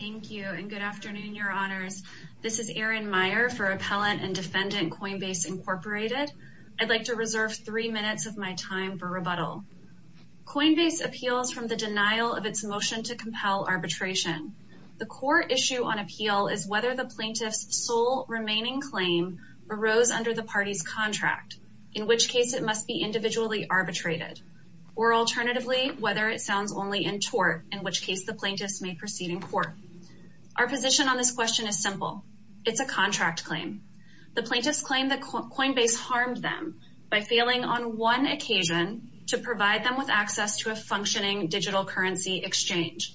Thank you and good afternoon, Your Honors. This is Erin Meyer for Appellant and Defendant Coinbase, Inc. I'd like to reserve three minutes of my time for rebuttal. Coinbase appeals from the denial of its motion to compel arbitration. The core issue on appeal is whether the plaintiff's sole remaining claim arose under the party's contract, in which case it must be individually plaintiffs may proceed in court. Our position on this question is simple. It's a contract claim. The plaintiffs claim that Coinbase harmed them by failing on one occasion to provide them with access to a functioning digital currency exchange.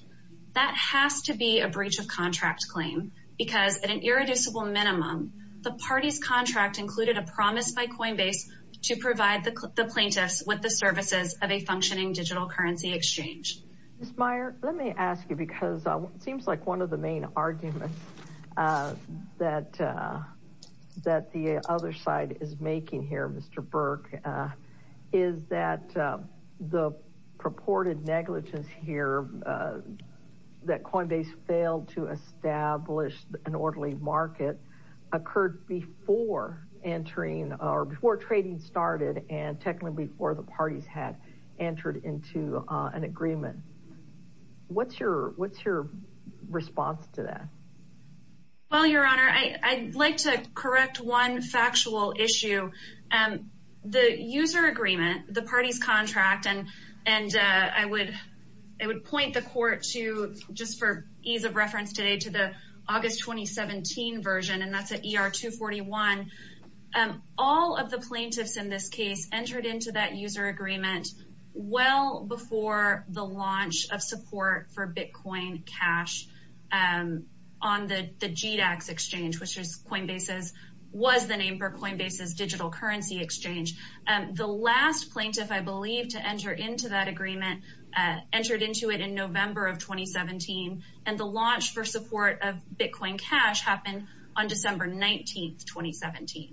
That has to be a breach of contract claim because at an irreducible minimum, the party's contract included a promise by Coinbase to provide the plaintiffs with the services of a functioning digital currency exchange. Ms. Meyer, let me ask you because it seems like one of the main arguments that that the other side is making here, Mr. Berk, is that the purported negligence here that Coinbase failed to establish an orderly market occurred before entering or before trading started and technically before the parties had entered into an agreement. What's your response to that? Well, Your Honor, I'd like to correct one factual issue. The user agreement, the party's contract, and I would point the court to, just for ease of reference today, to the August 2017 version and that's at ER 241. All of the plaintiffs in this case entered into that user agreement well before the launch of support for Bitcoin Cash on the GDAX exchange, which was the name for Coinbase's digital currency exchange. The last plaintiff, I believe, to enter into that agreement entered into it in November of 2017.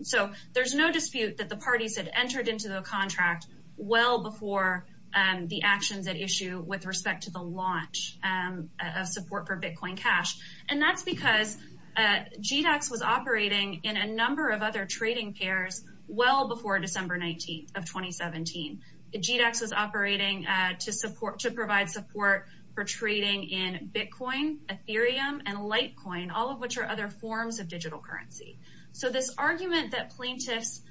So there's no dispute that the parties had entered into the contract well before the actions at issue with respect to the launch of support for Bitcoin Cash and that's because GDAX was operating in a number of other trading pairs well before December 19th of 2017. GDAX was operating to provide support for trading in Bitcoin, Ethereum, and Litecoin, all of which are other forms of digital currency. So this argument that plaintiffs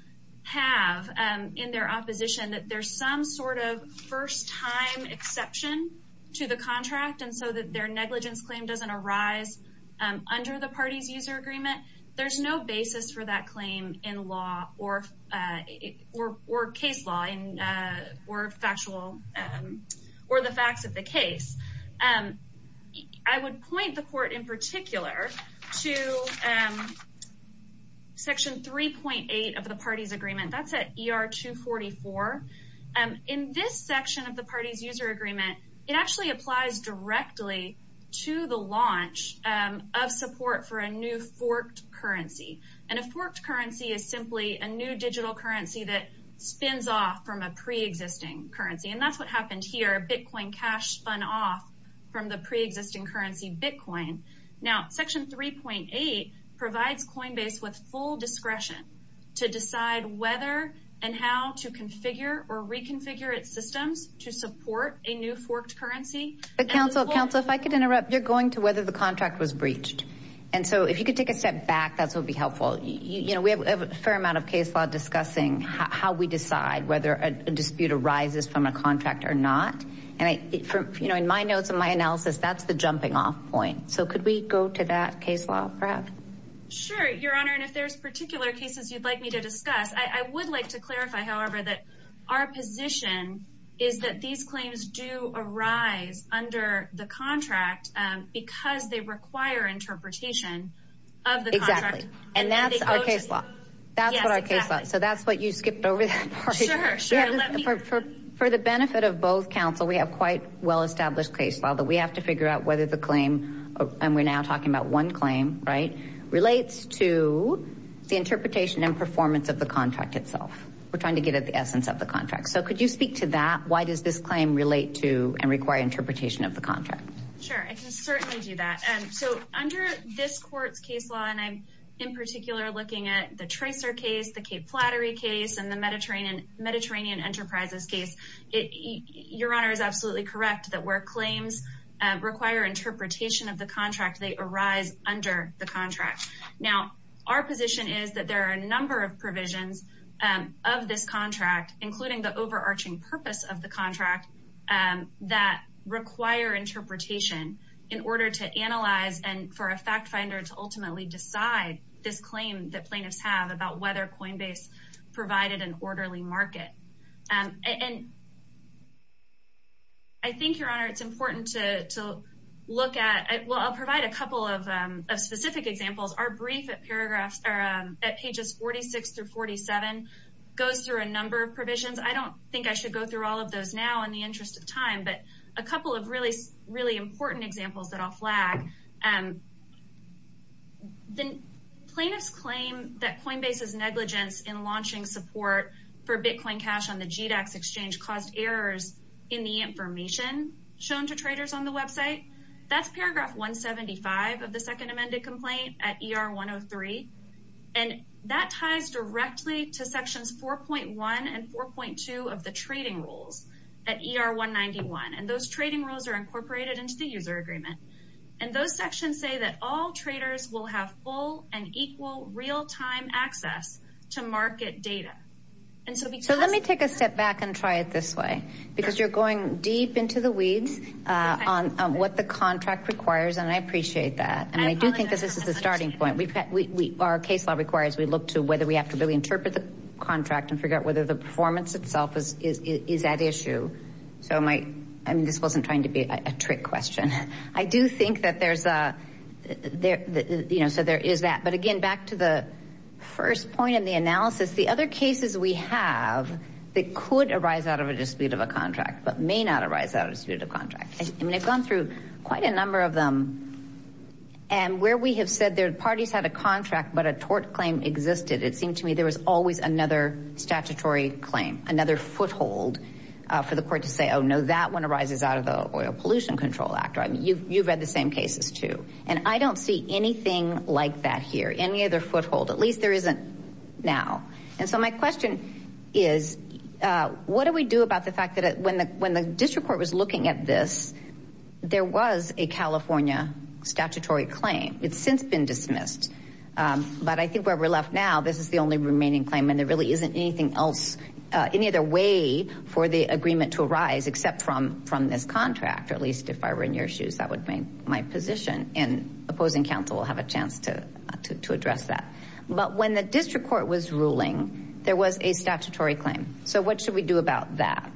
have in their opposition that there's some sort of first-time exception to the contract and so that their negligence claim doesn't arise under the party's user agreement, there's no basis for that claim in law or case law or the facts of the case. I would point the court in particular to section 3.8 of the party's agreement. That's at ER 244. In this section of the party's user agreement, it actually applies directly to the launch of support for a new forked currency. And a forked currency is simply a new digital currency that spins off from a pre-existing currency and that's what happened here. Bitcoin Cash spun off from the pre-existing currency Bitcoin. Now section 3.8 provides Coinbase with full discretion to decide whether and how to configure or reconfigure its systems to support a new forked currency. But counsel counsel if I could interrupt you're going to whether the contract was breached and so if you could take a step back that's what would be helpful. You know we have a fair amount of case law discussing how we decide whether a dispute arises from a contract or not and I you know in my notes of my analysis that's the jumping-off point so could we go to that case law perhaps? Sure your honor and if there's particular cases you'd like me to discuss I would like to clarify however that our position is that these claims do arise under the contract because they For the benefit of both counsel we have quite well established case law that we have to figure out whether the claim and we're now talking about one claim right relates to the interpretation and performance of the contract itself. We're trying to get at the essence of the contract so could you speak to that why does this claim relate to and require interpretation of the contract? Sure I can certainly do that and so under this court's case law and I'm in particular looking at the tracer case the Cape Flattery case and the Mediterranean Mediterranean Enterprises case it your honor is absolutely correct that where claims require interpretation of the contract they arise under the contract. Now our position is that there are a number of provisions of this contract including the overarching purpose of the contract that require interpretation in for a fact finder to ultimately decide this claim that plaintiffs have about whether Coinbase provided an orderly market and I think your honor it's important to look at well I'll provide a couple of specific examples our brief at paragraphs are at pages 46 through 47 goes through a number of provisions I don't think I should go through all of those now in the interest of time but a then plaintiffs claim that Coinbase's negligence in launching support for Bitcoin cash on the GDAX exchange caused errors in the information shown to traders on the website that's paragraph 175 of the second amended complaint at ER 103 and that ties directly to sections 4.1 and 4.2 of the trading rules at ER 191 and those trading rules are incorporated into the user agreement and those sections say that all traders will have full and equal real-time access to market data and so let me take a step back and try it this way because you're going deep into the weeds on what the contract requires and I appreciate that and I do think this is the starting point we've got we are case law requires we look to whether we have to really interpret the contract and figure out whether the performance itself is at issue so my I mean this wasn't trying to be a trick question I do think that there's a there you know so there is that but again back to the first point in the analysis the other cases we have that could arise out of a dispute of a contract but may not arise out of a dispute of contract I mean I've gone through quite a number of them and where we have said their parties had a contract but a tort claim existed it seemed to me there was always another statutory claim another foothold for the oil pollution control actor I mean you've read the same cases too and I don't see anything like that here any other foothold at least there isn't now and so my question is what do we do about the fact that when the when the district court was looking at this there was a California statutory claim it's since been dismissed but I think where we're left now this is the only remaining claim and there really isn't anything else any other way for the contract or at least if I were in your shoes that would bring my position and opposing counsel will have a chance to to address that but when the district court was ruling there was a statutory claim so what should we do about that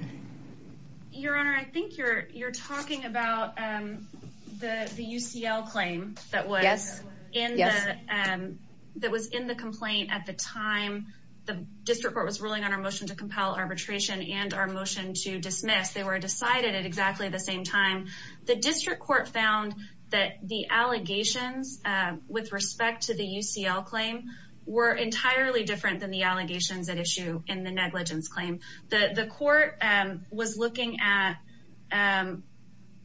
your honor I think you're you're talking about the UCL claim that was yes and that was in the complaint at the time the district court was ruling on our motion to compel arbitration and our motion to dismiss they were decided it at the same time the district court found that the allegations with respect to the UCL claim were entirely different than the allegations that issue in the negligence claim the the court was looking at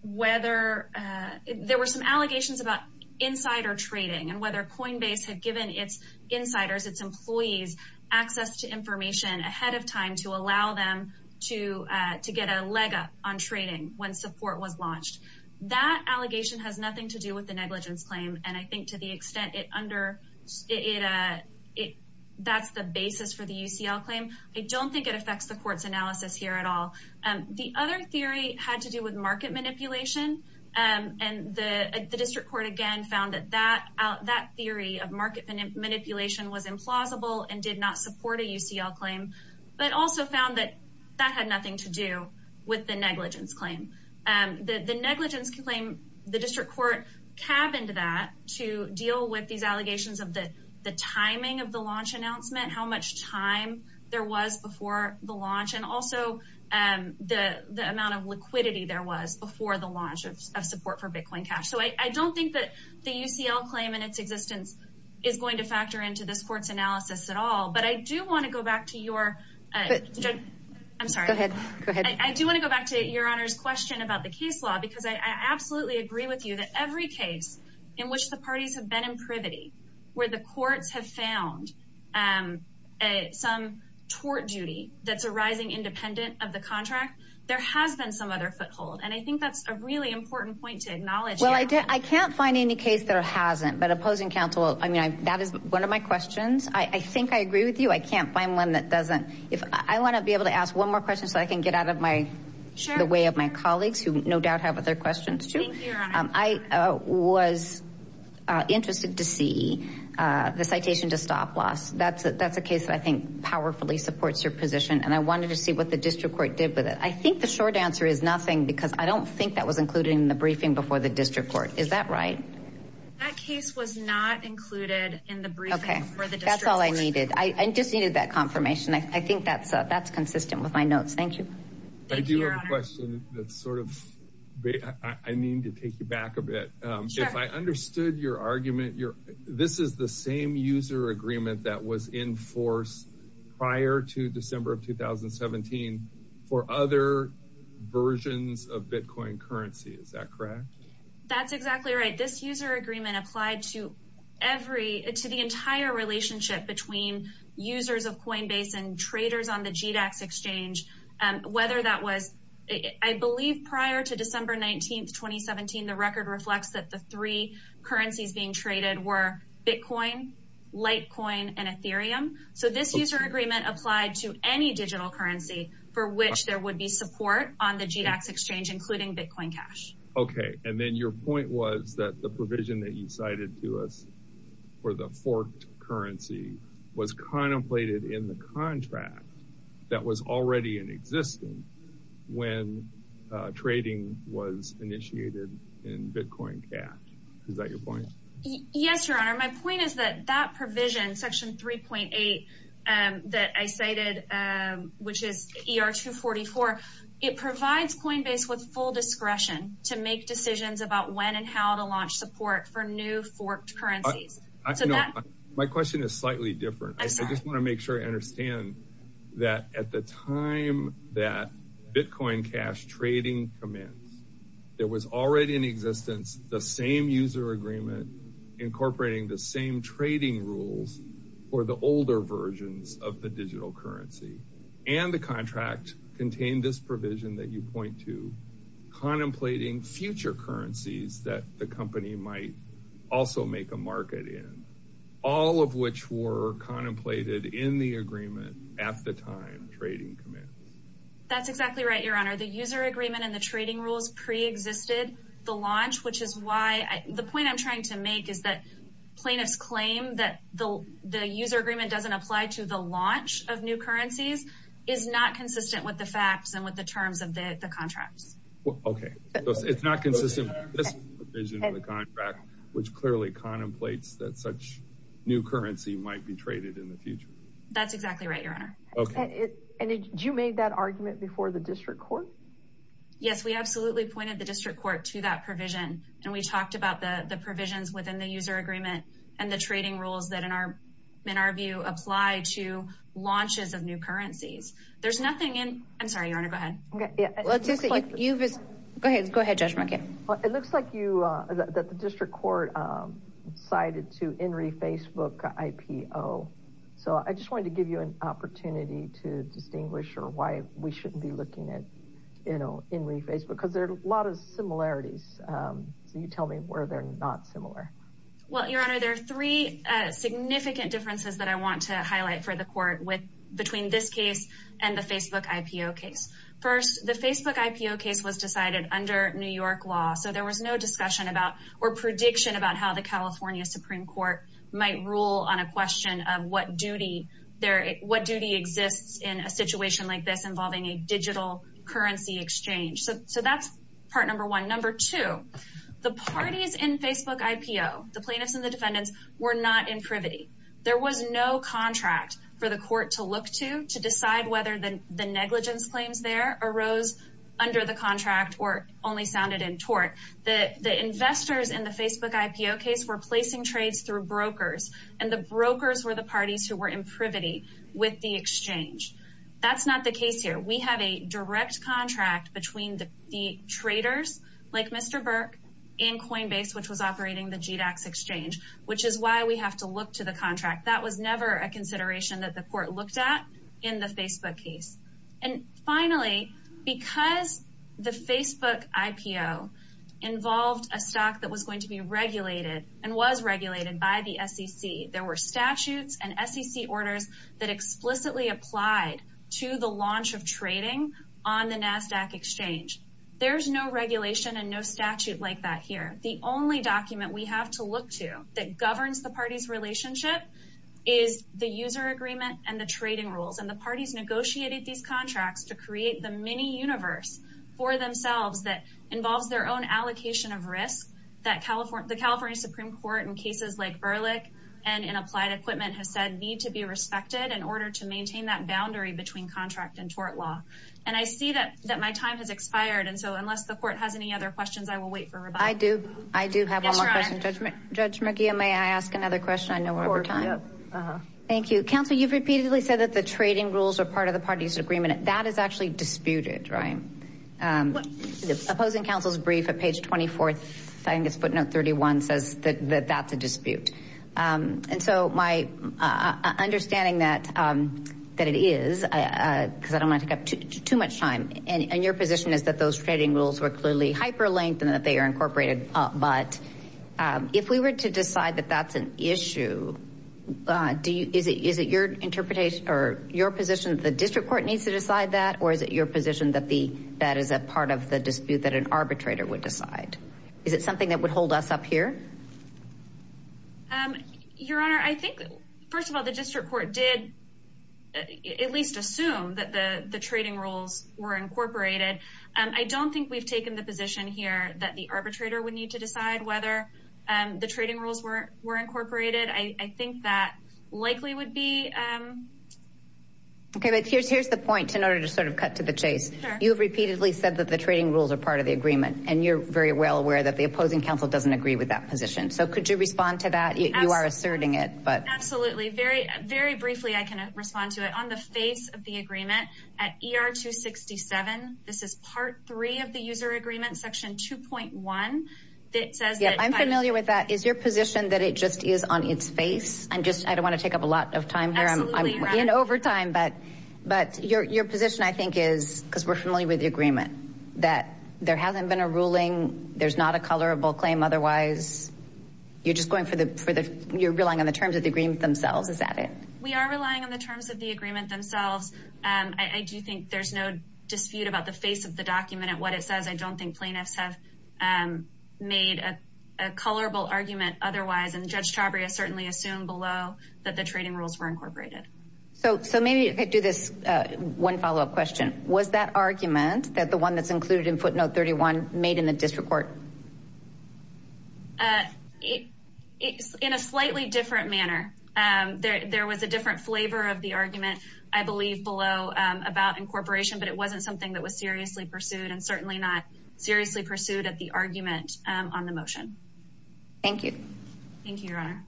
whether there were some allegations about insider trading and whether coinbase had given its insiders its employees access to information ahead of time to allow them to to get a on trading when support was launched that allegation has nothing to do with the negligence claim and I think to the extent it under it it that's the basis for the UCL claim I don't think it affects the courts analysis here at all and the other theory had to do with market manipulation and and the district court again found that that out that theory of market manipulation was implausible and did not support a UCL claim but also found that that had thing to do with the negligence claim and the negligence claim the district court cabin to that to deal with these allegations of the the timing of the launch announcement how much time there was before the launch and also and the the amount of liquidity there was before the launch of support for Bitcoin cash so I don't think that the UCL claim in its existence is going to factor into the sports analysis at all but I do want to go back to your I'm sorry I do want to go back to your honors question about the case law because I absolutely agree with you that every case in which the parties have been in privity where the courts have found and some tort duty that's arising independent of the contract there has been some other foothold and I think that's a really important point to acknowledge well I did I can't find any case there hasn't but opposing counsel I mean I that is one of my questions I think I agree with you I can't find one that doesn't if I want to be able to ask one more question so I can get out of my the way of my colleagues who no doubt have other questions to I was interested to see the citation to stop-loss that's that's a case that I think powerfully supports your position and I wanted to see what the district court did with it I think the short answer is nothing because I don't think that was included in the briefing before the district court is that right that case was not included in the briefing for the district that's all I needed I just needed that confirmation I think that's that's consistent with my notes thank you I do have a question that's sort of I need to take you back a bit if I understood your argument your this is the same user agreement that was in force prior to December of 2017 for other versions of Bitcoin currency is that correct that's exactly right this user agreement applied to every to the entire relationship between users of Coinbase and traders on the GDAX exchange and whether that was I believe prior to December 19th 2017 the record reflects that the three currencies being traded were Bitcoin Litecoin and Ethereum so this user agreement applied to any digital currency for which there would be support on the GDAX exchange including Bitcoin cash okay and then your point was that the provision that you cited to us for the forked currency was contemplated in the contract that was already in existence when trading was initiated in Bitcoin cash is that your point yes your honor my point is that that provision section 3.8 that I cited which is ER 244 it provides Coinbase with full discretion to make decisions about when and how to launch support for new forked currencies my question is slightly different I just want to make sure I understand that at the time that Bitcoin cash trading commence there was already in existence the same user agreement incorporating the same trading rules or the older versions of the digital currency and the contract contained this provision that you point to contemplating future currencies that the company might also make a market in all of which were contemplated in the agreement at the time trading commence that's exactly right your honor the user agreement and the trading rules pre-existed the launch which is why the point I'm trying to make is that plaintiffs claim that the the user agreement doesn't apply to the launch of new currencies is not consistent with the facts and with the terms of the contracts okay it's not consistent which clearly contemplates that such new currency might be traded in the future that's exactly right your honor okay and you made that argument before the district court yes we absolutely pointed the district court to that provision and we talked about the the provisions within the user agreement and the trading rules that in our in our view apply to launches of new currencies there's nothing in I'm sorry your honor go ahead okay yeah let's just like you just go ahead go ahead judge market well it looks like you that the district court cited to in re Facebook IPO so I just wanted to give you an opportunity to distinguish or why we shouldn't be looking at you know in reface because there's a lot of similarities so you tell me where they're not similar well your honor there are three significant differences that I want to highlight for the court with between this case and the Facebook IPO case first the Facebook IPO case was decided under New York law so there was no discussion about or prediction about how the California Supreme Court might rule on a question of what duty there what duty exists in a situation like this involving a digital currency exchange so that's part number one number two the parties in Facebook IPO the plaintiffs and the defendants were not in privity there was no contract for the court to look to to decide whether the negligence claims there arose under the contract or only sounded in tort that the investors in the Facebook IPO case were placing trades through brokers and the brokers were the parties who were in privity with the exchange that's not the case here we have a direct contract between the traders like Mr. Burke in Coinbase which was operating the GDAX exchange which is why we have to look to the contract that was never a consideration that the court looked at in the Facebook case and finally because the Facebook IPO involved a stock that was going to be regulated and was regulated by the SEC there were statutes and SEC orders that explicitly applied to the launch of trading on the NASDAQ exchange there's no regulation and no statute like that here the only document we have to look to that governs the parties relationship is the user agreement and the trading rules and the parties negotiated these contracts to create the mini universe for themselves that involves their own allocation of risk that California the California Supreme Court in cases like Berlick and in in order to maintain that boundary between contract and tort law and I see that that my time has expired and so unless the court has any other questions I will wait for I do I do have a judgment judge McGee and may I ask another question I know we're time thank you counsel you've repeatedly said that the trading rules are part of the parties agreement that is actually disputed right the opposing counsel's brief at page 24th that it is too much time and your position is that those trading rules were clearly hyperlinked and that they are incorporated but if we were to decide that that's an issue do you is it is it your interpretation or your position the district court needs to decide that or is it your position that the that is a part of the dispute that an arbitrator would decide is it something that would hold us up here your honor I think first of all the court did at least assume that the the trading rules were incorporated I don't think we've taken the position here that the arbitrator would need to decide whether the trading rules were were incorporated I think that likely would be okay but here's here's the point in order to sort of cut to the chase you have repeatedly said that the trading rules are part of the agreement and you're very well aware that the opposing counsel doesn't agree with that position so could you respond to that you are asserting it but absolutely very briefly I can respond to it on the face of the agreement at ER 267 this is part three of the user agreement section 2.1 that says yeah I'm familiar with that is your position that it just is on its face I'm just I don't want to take up a lot of time here I'm in overtime but but your position I think is because we're familiar with the agreement that there hasn't been a ruling there's not a colorable claim otherwise you're just going for the for the you're relying on the terms of the agreement themselves is that it we are relying on the terms of the agreement themselves and I do think there's no dispute about the face of the document at what it says I don't think plaintiffs have made a colorable argument otherwise and Judge Chabria certainly assumed below that the trading rules were incorporated so so maybe I do this one follow-up question was that argument that the one that's included in footnote 31 made in the district court it's in a slightly different manner there was a different flavor of the argument I believe below about incorporation but it wasn't something that was seriously pursued and certainly not seriously pursued at the argument on the motion thank you thank you your honor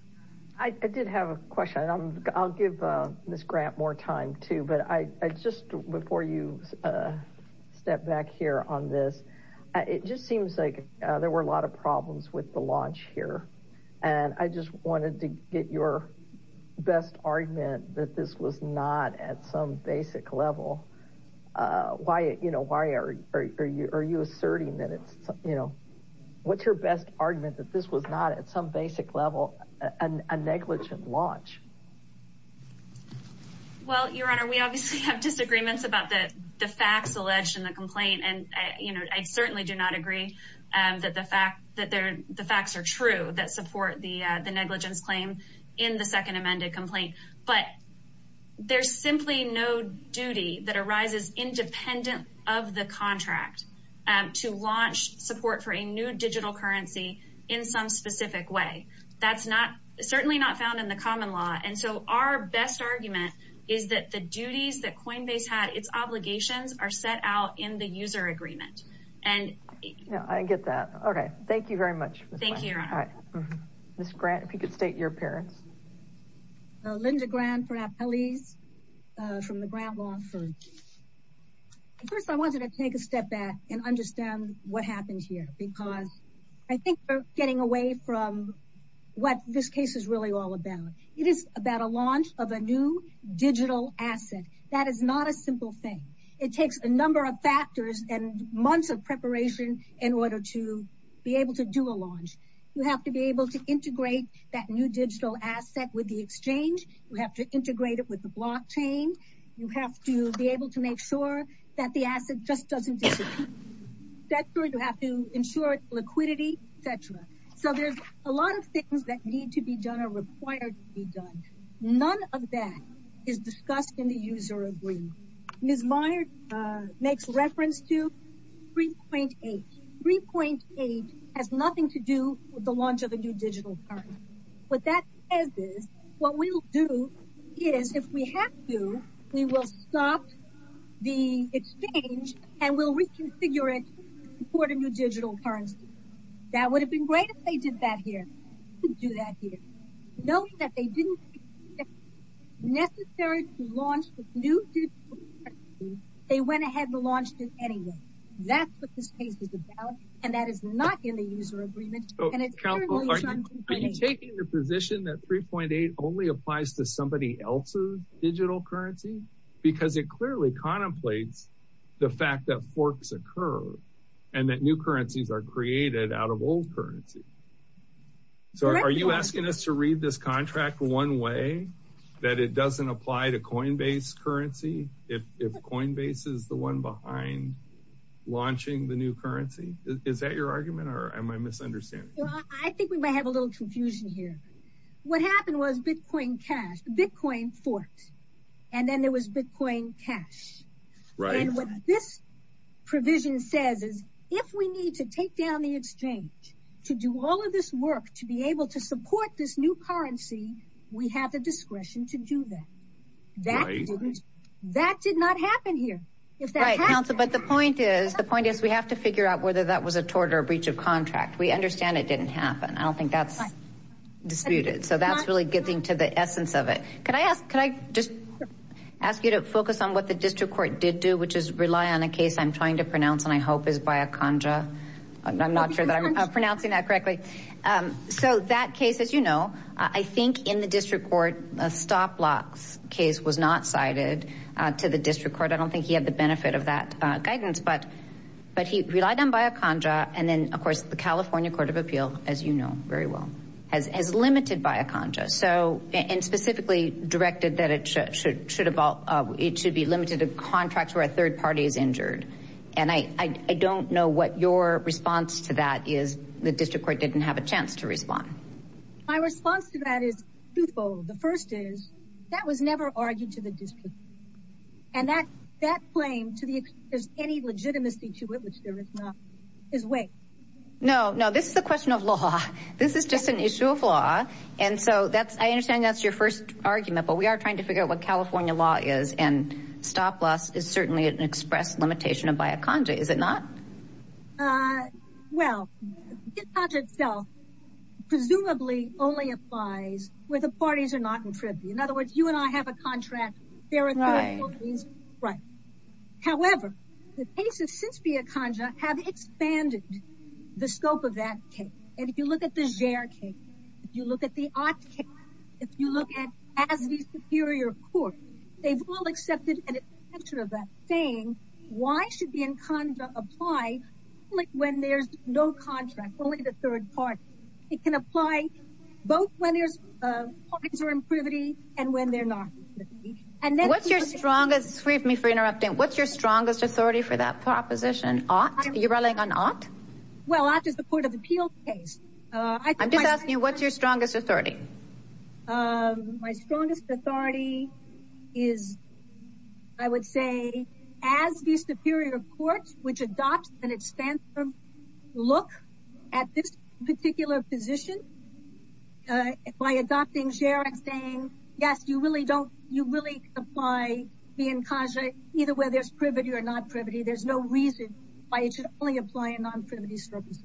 I did have a question I'll give this grant more time too but I just before you step back here on this it just seems like there were a lot of problems with the launch here and I just wanted to get your best argument that this was not at some basic level why it you know why are you are you asserting that it's you know what's your best argument that this was not at some basic level and a negligent launch well your honor we obviously have disagreements about that the facts alleged in the agree and that the fact that there the facts are true that support the the negligence claim in the second amended complaint but there's simply no duty that arises independent of the contract and to launch support for a new digital currency in some specific way that's not certainly not found in the common law and so our best argument is that the duties that Coinbase had its obligations are set out in the user agreement and I get that okay thank you very much thank you all right this grant if you could state your parents Linda grand for our police from the ground long first I wanted to take a step back and understand what happens here because I think we're getting away from what this case is really all about it is about a launch of a new digital asset that is not a simple thing it takes a number of factors and months of preparation in order to be able to do a launch you have to be able to integrate that new digital asset with the exchange you have to integrate it with the blockchain you have to be able to make sure that the asset just doesn't that's where you have to ensure liquidity etc so there's a lot of things that need to be done are admired makes reference to 3.8 3.8 has nothing to do with the launch of a new digital what that is what we'll do is if we have to we will stop the exchange and we'll reconfigure it for the new digital currency that would have been great if they did that here do that here knowing that they didn't necessary to launch they went ahead and launched it anyway that's what this case is about and that is not in the user agreement are you taking the position that 3.8 only applies to somebody else's digital currency because it clearly contemplates the fact that forks occur and that new currencies are created out of old currency so are you asking us to read this contract one way that it doesn't apply to Coinbase currency if Coinbase is the one behind launching the new currency is that your argument or am I misunderstanding I think we may have a little confusion here what happened was Bitcoin cash Bitcoin forks and then there was Bitcoin cash right this provision says is if we need to take down the exchange to do all of this work to be able to support this new currency we have the that did not happen here but the point is the point is we have to figure out whether that was a tort or breach of contract we understand it didn't happen I don't think that's disputed so that's really getting to the essence of it could I ask could I just ask you to focus on what the district court did do which is rely on a case I'm trying to pronounce and I hope is by a conjure I'm not sure that I'm pronouncing that correctly so that case as you know I was not cited to the district court I don't think he had the benefit of that guidance but but he relied on by a conjure and then of course the California Court of Appeal as you know very well as as limited by a conjure so and specifically directed that it should should have all it should be limited to contracts where a third party is injured and I I don't know what your response to that is the district court didn't have a chance to respond my response to that is the first is that was never argued to the district and that that claim to the there's any legitimacy to it which there is not his way no no this is the question of law this is just an issue of law and so that's I understand that's your first argument but we are trying to figure out what California law is and stop loss is certainly an express limitation of by a conjure is it not well it's not itself presumably only applies where the parties are not in tribute in other words you and I have a contract there are right however the cases since be a conjure have expanded the scope of that cake and if you look at the share cake you look at the art if you look at as the superior court they've been conjure apply like when there's no contract only the third part it can apply both when there's parties are in privity and when they're not and then what's your strongest sweep me for interrupting what's your strongest authority for that proposition ought you're running on art well after the Court of Appeals case I'm just asking you what's your strongest authority my superior courts which adopts and it stands them look at this particular position by adopting share I'm saying yes you really don't you really apply being conjure either where there's privity or not privity there's no reason why it should only apply a non-privity service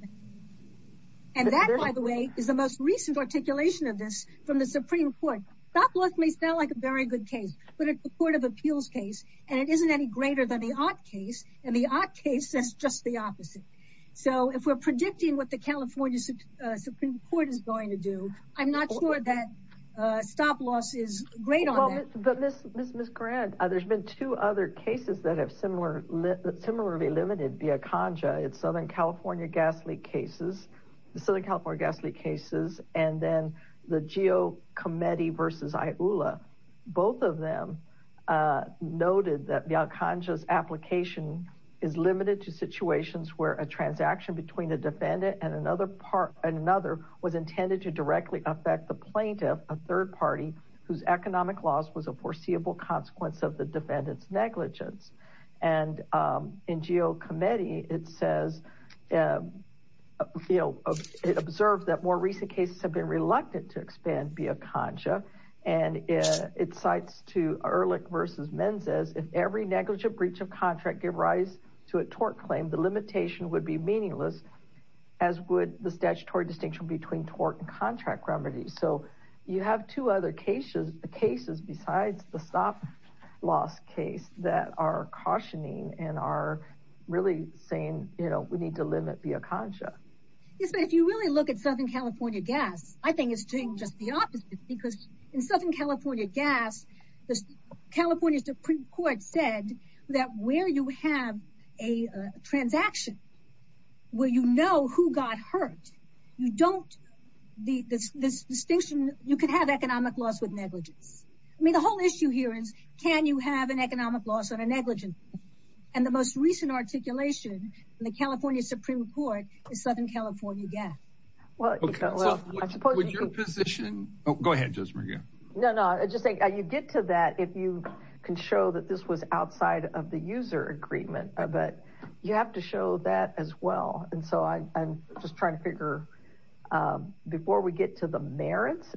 and that by the way is the most recent articulation of this from the Supreme Court stop loss may sound like a very good case but it's a Court of Appeals case and it isn't any greater than the art case and the art case that's just the opposite so if we're predicting what the California Supreme Court is going to do I'm not sure that stop-loss is great on it but miss miss miss grant there's been two other cases that have similar similarly limited be a conjure it's Southern California gas leak cases the Southern California gas leak cases and then the geo committee versus I ULA both of them noted that the unconscious application is limited to situations where a transaction between the defendant and another part another was intended to directly affect the plaintiff a third party whose economic loss was a foreseeable consequence of the defendants negligence and in geo committee it says you know it observed that more recent cases have been reluctant to expand be a conjure and it cites to Ehrlich versus men says if every negligent breach of contract give rise to a tort claim the limitation would be meaningless as would the statutory distinction between tort and contract remedies so you have two other cases the cases besides the stop-loss case that are cautioning and are really saying you know we need to limit be a if you really look at Southern California gas I think it's doing just the opposite because in Southern California gas the California Supreme Court said that where you have a transaction where you know who got hurt you don't the distinction you could have economic loss with negligence I mean the whole issue here is can you have an economic loss on a negligent and the most recent articulation in the California Supreme Court is Southern California gas well I suppose your position oh go ahead just for you no no I just think you get to that if you can show that this was outside of the user agreement but you have to show that as well and so I'm just trying to figure before we get to the merits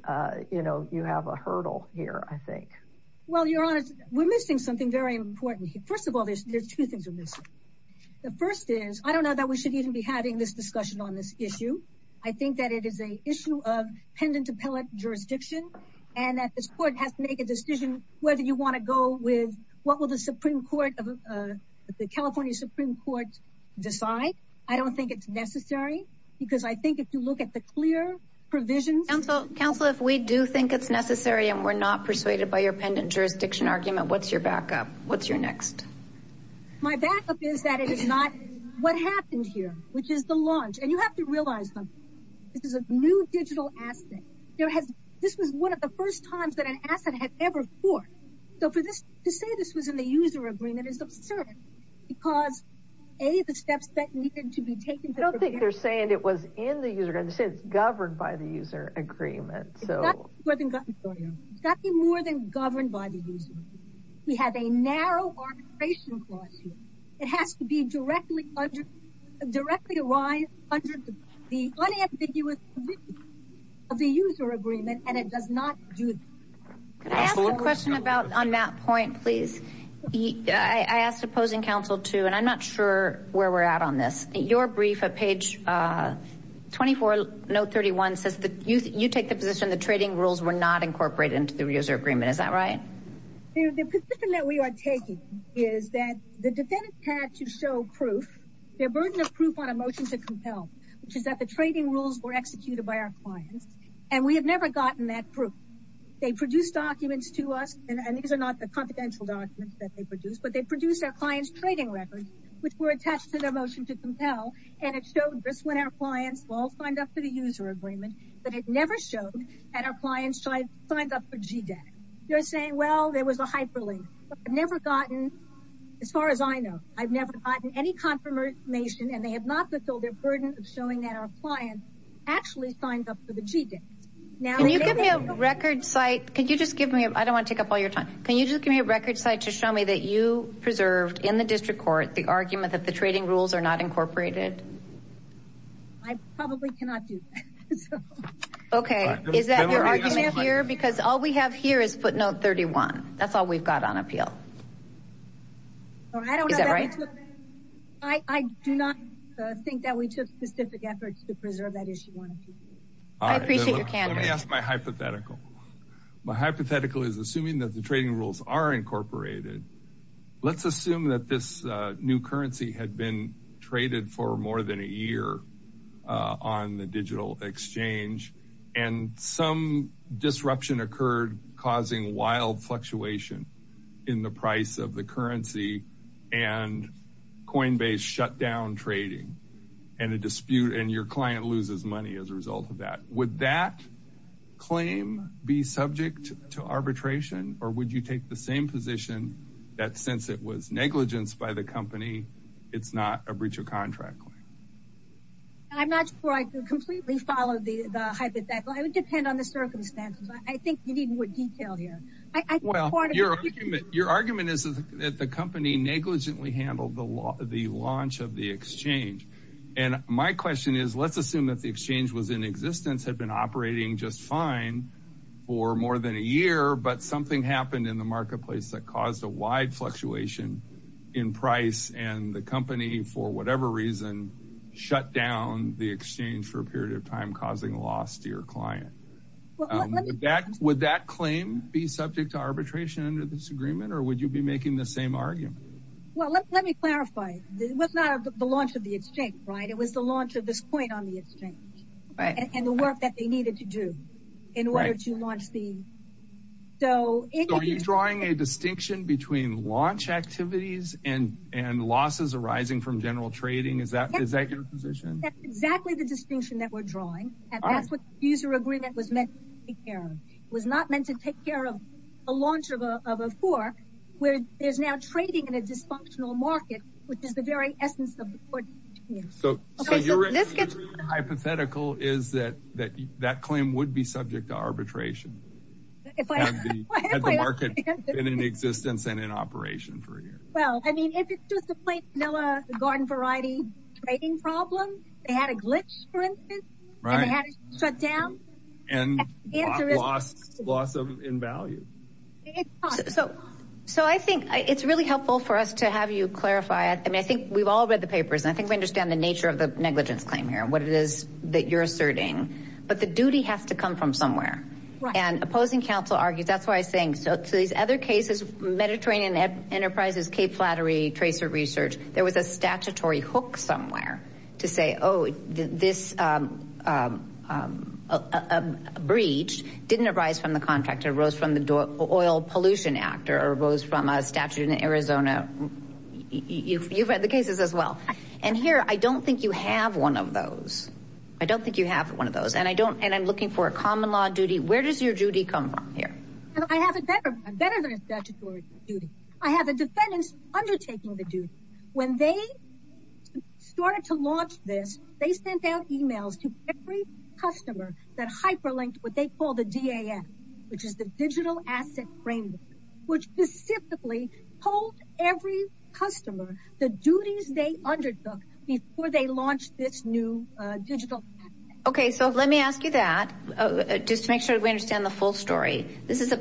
you know you have a hurdle here I think well you're honest we're missing something very important here first of all there's two things are the first is I don't know that we should even be having this discussion on this issue I think that it is a issue of pendant appellate jurisdiction and that this court has to make a decision whether you want to go with what will the Supreme Court of the California Supreme Court decide I don't think it's necessary because I think if you look at the clear provisions and so counsel if we do think it's necessary and we're not persuaded by your pendant jurisdiction argument what's your backup what's your next my backup is that it is not what happened here which is the launch and you have to realize them this is a new digital asset there has this was one of the first times that an asset had ever for so for this to say this was in the user agreement is absurd because a the steps that needed to be taken I don't think they're saying it was in the user and since governed by the user agreement so more than governed by the we have a narrow or it has to be directly under directly arise under the unambiguous of the user agreement and it does not do a question about on that point please I asked opposing counsel to and I'm not sure where we're at on this your brief a page 24 no 31 says that you you take the position the trading rules were not incorporated into the user agreement is that right we are taking is that the defendants had to show proof their burden of proof on a motion to compel which is that the trading rules were executed by our clients and we have never gotten that proof they produce documents to us and these are not the confidential documents that they produce but they produce our clients trading records which were attached to the motion to compel and it showed this when our clients will find up to the user agreement but it never showed that our clients tried signed up for G day you're saying well there was a hyperlink I've never gotten as far as I know I've never gotten any confirmation and they have not fulfilled their burden of showing that our client actually signed up for the G day now you give me a record site could you just give me a I don't want to take up all your time can you just give me a record site to show me that you preserved in the district court the argument that the here because all we have here is footnote 31 that's all we've got on appeal I do not think that we took specific efforts to preserve that is my hypothetical my hypothetical is assuming that the trading rules are incorporated let's assume that this new currency had been traded for more than a year on the some disruption occurred causing wild fluctuation in the price of the currency and coinbase shut down trading and a dispute and your client loses money as a result of that would that claim be subject to arbitration or would you take the same position that since it was negligence by the company it's not a your argument is that the company negligently handled the law the launch of the exchange and my question is let's assume that the exchange was in existence had been operating just fine for more than a year but something happened in the marketplace that caused a wide fluctuation in price and the company for whatever reason shut down the exchange for a period of time causing loss to your client would that claim be subject to arbitration under this agreement or would you be making the same argument let me clarify it was not the launch of the exchange right it was the launch of this point on the exchange right and the work that they needed to do in order to launch the so are you drawing a distinction between launch activities and and losses arising from general trading is that exactly the distinction that we're drawing and that's what user agreement was meant here was not meant to take care of a launch of a four where there's now trading in a dysfunctional market which is the very essence of the court so hypothetical is that that that claim would be subject to arbitration in existence and in operation for a year well I mean if it's just a plate vanilla garden variety trading problem they had shut down and loss of in value so so I think it's really helpful for us to have you clarify it I mean I think we've all read the papers I think we understand the nature of the negligence claim here what it is that you're asserting but the duty has to come from somewhere and opposing counsel argues that's why I think so to these other cases Mediterranean Enterprises Cape Flattery research there was a statutory hook somewhere to say oh this breach didn't arise from the contractor rose from the door oil pollution actor or rose from a statute in Arizona you've read the cases as well and here I don't think you have one of those I don't think you have one of those and I don't and I'm looking for a common law duty where does your duty come from here I have a better better I have a defendants undertaking the duty when they started to launch this they sent out emails to every customer that hyperlinked what they call the DAF which is the digital asset framework which specifically told every customer the duties they undertook before they launched this new digital okay so let me ask you that just to make sure we understand the full story this is a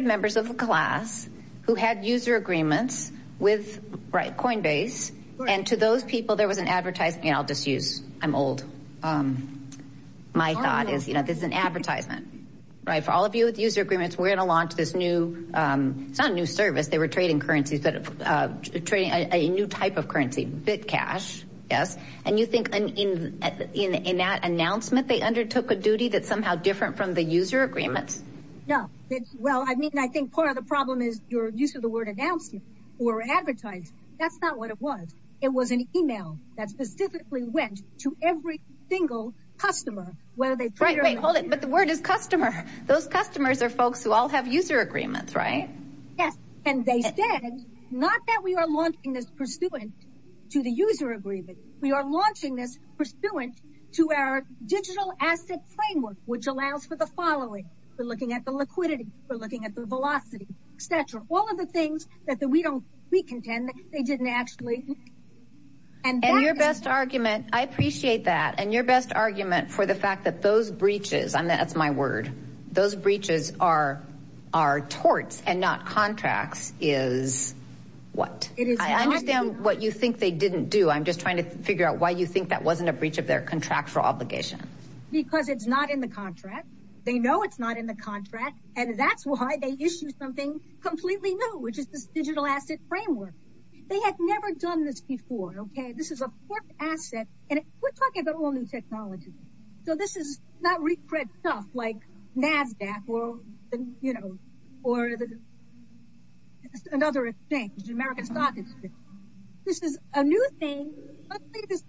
members of the class who had user agreements with right coinbase and to those people there was an advertising I'll just use I'm old my thought is you know there's an advertisement right for all of you with user agreements we're gonna launch this new it's not a new service they were trading currencies but of trading a new type of currency bitcash yes and you think in in that announcement they undertook a duty that's somehow different from the user agreements no it's well I mean I think part of the problem is your use of the word announcement or advertised that's not what it was it was an email that specifically went to every single customer whether they try to hold it but the word is customer those customers are folks who all have user agreements right yes and they said not that we are launching this pursuant to the user agreement we are launching this pursuant to our digital asset framework which allows for the following we're looking at the liquidity we're looking at the velocity stature all of the things that the we don't we contend they didn't actually and then your best argument I appreciate that and your best argument for the fact that those breaches and that's my word those breaches are our torts and not contracts is what it is I understand what you think they didn't do I'm just trying to figure out why you think that wasn't a breach of their contractual obligation because it's not in the contract they know it's not in the contract and that's why they issue something completely new which is this digital asset framework they had never done this before okay this is a asset and we're talking about all new technology so this is not reprint stuff like NASDAQ world and you know or another exchange America's got this is a thing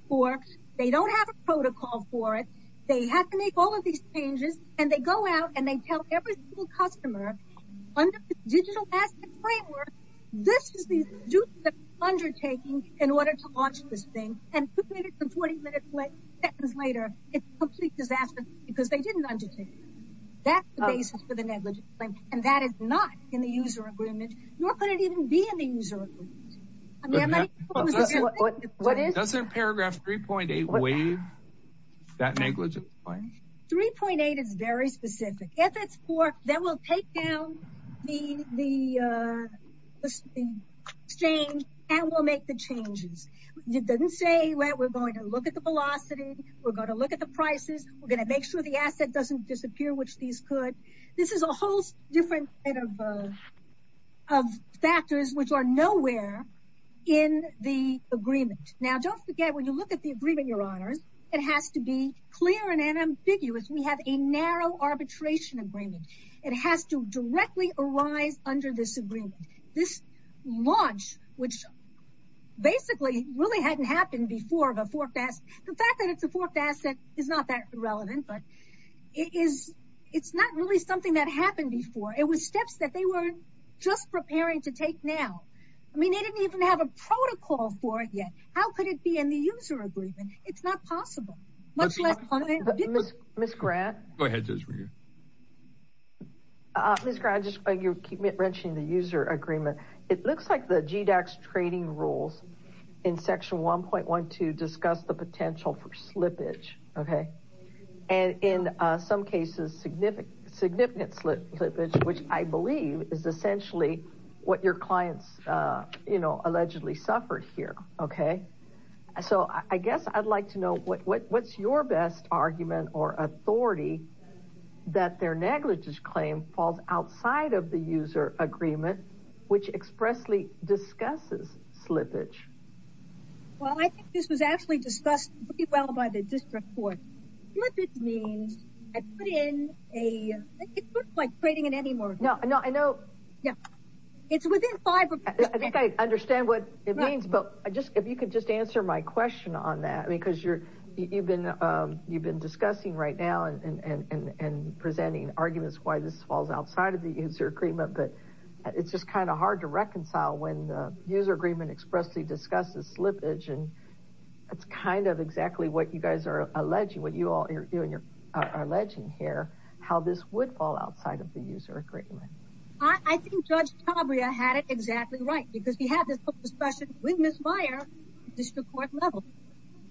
for they don't have a protocol for it they have to make all of these changes and they go out and they tell every little customer under digital framework this is the undertaking in order to watch this thing and 40 minutes later it's complete disaster because they didn't undertake that's the basis for the negligence and that is not in the user agreement nor could it even be in the user agreement. Doesn't paragraph 3.8 waive that negligence claim? 3.8 is very specific if it's for then we'll take down the exchange and we'll make the changes you didn't say we're going to look at the velocity we're going to look at the prices we're gonna make sure the asset doesn't disappear which these could this is a different of factors which are nowhere in the agreement now don't forget when you look at the agreement your honors it has to be clear and an ambiguous we have a narrow arbitration agreement it has to directly arise under this agreement this launch which basically really hadn't happened before of a forecast the fact that it's a forecast that is not that relevant but it is it's not really something that happened before it was steps that they weren't just preparing to take now I mean they didn't even have a protocol for it yet how could it be in the user agreement it's not possible much less miss miss grant my head says for you this guy just like you keep it wrenching the user agreement it looks like the GDACs trading rules in section 1.1 to discuss the potential for which I believe is essentially what your clients you know allegedly suffered here okay so I guess I'd like to know what what's your best argument or authority that their negligence claim falls outside of the user agreement which expressly discusses slippage well I think this was actually discussed well by the district court it means I put in a like trading it anymore no no I know yeah it's within five I think I understand what it means but I just if you could just answer my question on that because you're you've been you've been discussing right now and presenting arguments why this falls outside of the user agreement but it's just kind of hard to reconcile when the user agreement expressly discusses slippage and it's kind of exactly what you guys are alleging what you all you're doing you're alleging here how this would fall outside of the user agreement I think judge Cabrera had it exactly right because he had this discussion with Miss Meyer district court level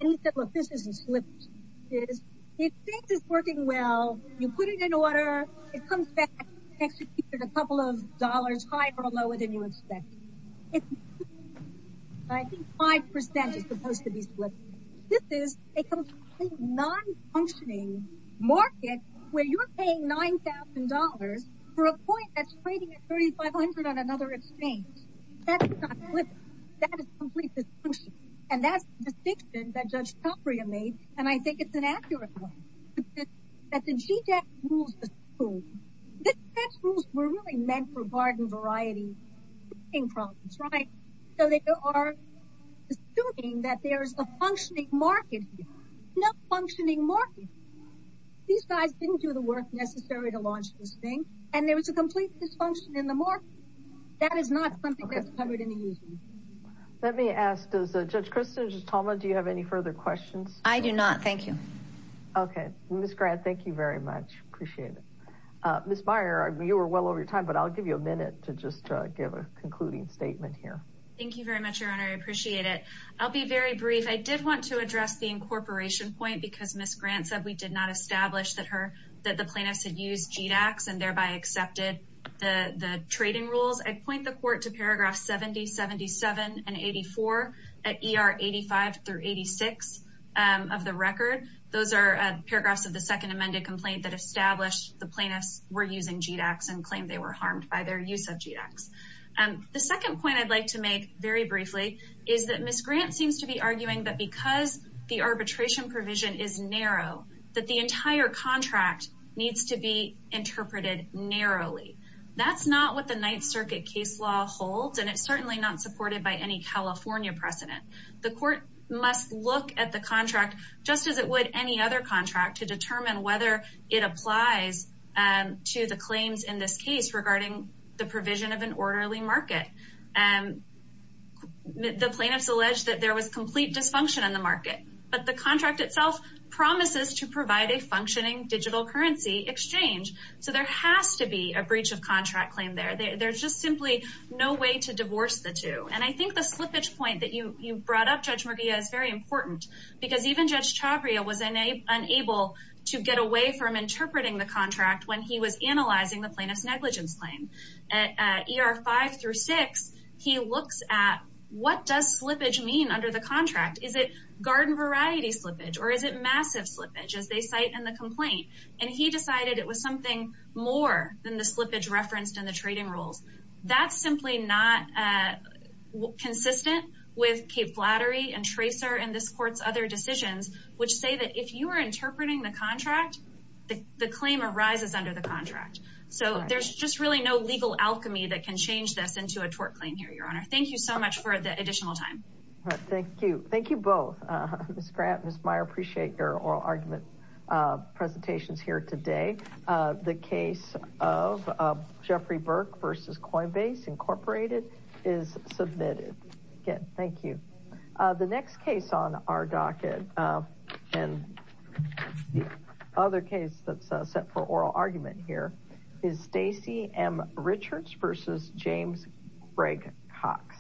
and he said look this isn't slipped it is it thinks it's working well you put it in order it I think 5% is supposed to be split this is a non-functioning market where you're paying $9,000 for a point that's trading at $3,500 on another exchange and that's the distinction that judge Caprio made and I think it's an accurate that the so they are assuming that there's a functioning market no functioning market these guys didn't do the work necessary to launch this thing and there was a complete dysfunction in the market that is not something that's covered in the user let me ask does the judge Kristin Toma do you have any further questions I do not thank you okay miss grant thank you very much appreciate it miss Meyer you were well over time but I'll give you a minute to just give a statement here thank you very much your honor I appreciate it I'll be very brief I did want to address the incorporation point because miss grant said we did not establish that her that the plaintiffs had used GEDAX and thereby accepted the the trading rules I'd point the court to paragraph 70 77 and 84 at er 85 through 86 of the record those are paragraphs of the second amended complaint that established the plaintiffs were using GEDAX and claimed they were harmed by their use of GEDAX and the second point I'd like to make very briefly is that miss grant seems to be arguing that because the arbitration provision is narrow that the entire contract needs to be interpreted narrowly that's not what the Ninth Circuit case law holds and it's certainly not supported by any California precedent the court must look at the contract just as it would any other contract to determine whether it applies and to the claims in this case regarding the provision of an orderly market and the plaintiffs allege that there was complete dysfunction in the market but the contract itself promises to provide a functioning digital currency exchange so there has to be a breach of contract claim there there's just simply no way to divorce the two and I think the slippage point that you you brought up judge Murguia is very important because even judge Chavria was unable to get away from interpreting the claim at ER 5 through 6 he looks at what does slippage mean under the contract is it garden variety slippage or is it massive slippage as they cite in the complaint and he decided it was something more than the slippage referenced in the trading rules that's simply not consistent with Cape Flattery and tracer and this courts other decisions which say that if you are interpreting the contract the claim arises under the contract so there's just really no legal alchemy that can change this into a tort claim here your honor thank you so much for the additional time thank you thank you both scrap miss Meyer appreciate your oral argument presentations here today the case of Jeffrey Burke versus Coinbase Incorporated is submitted again thank you the next case on our docket and other case that's set for oral argument here is Stacy M Richards versus James Greg Cox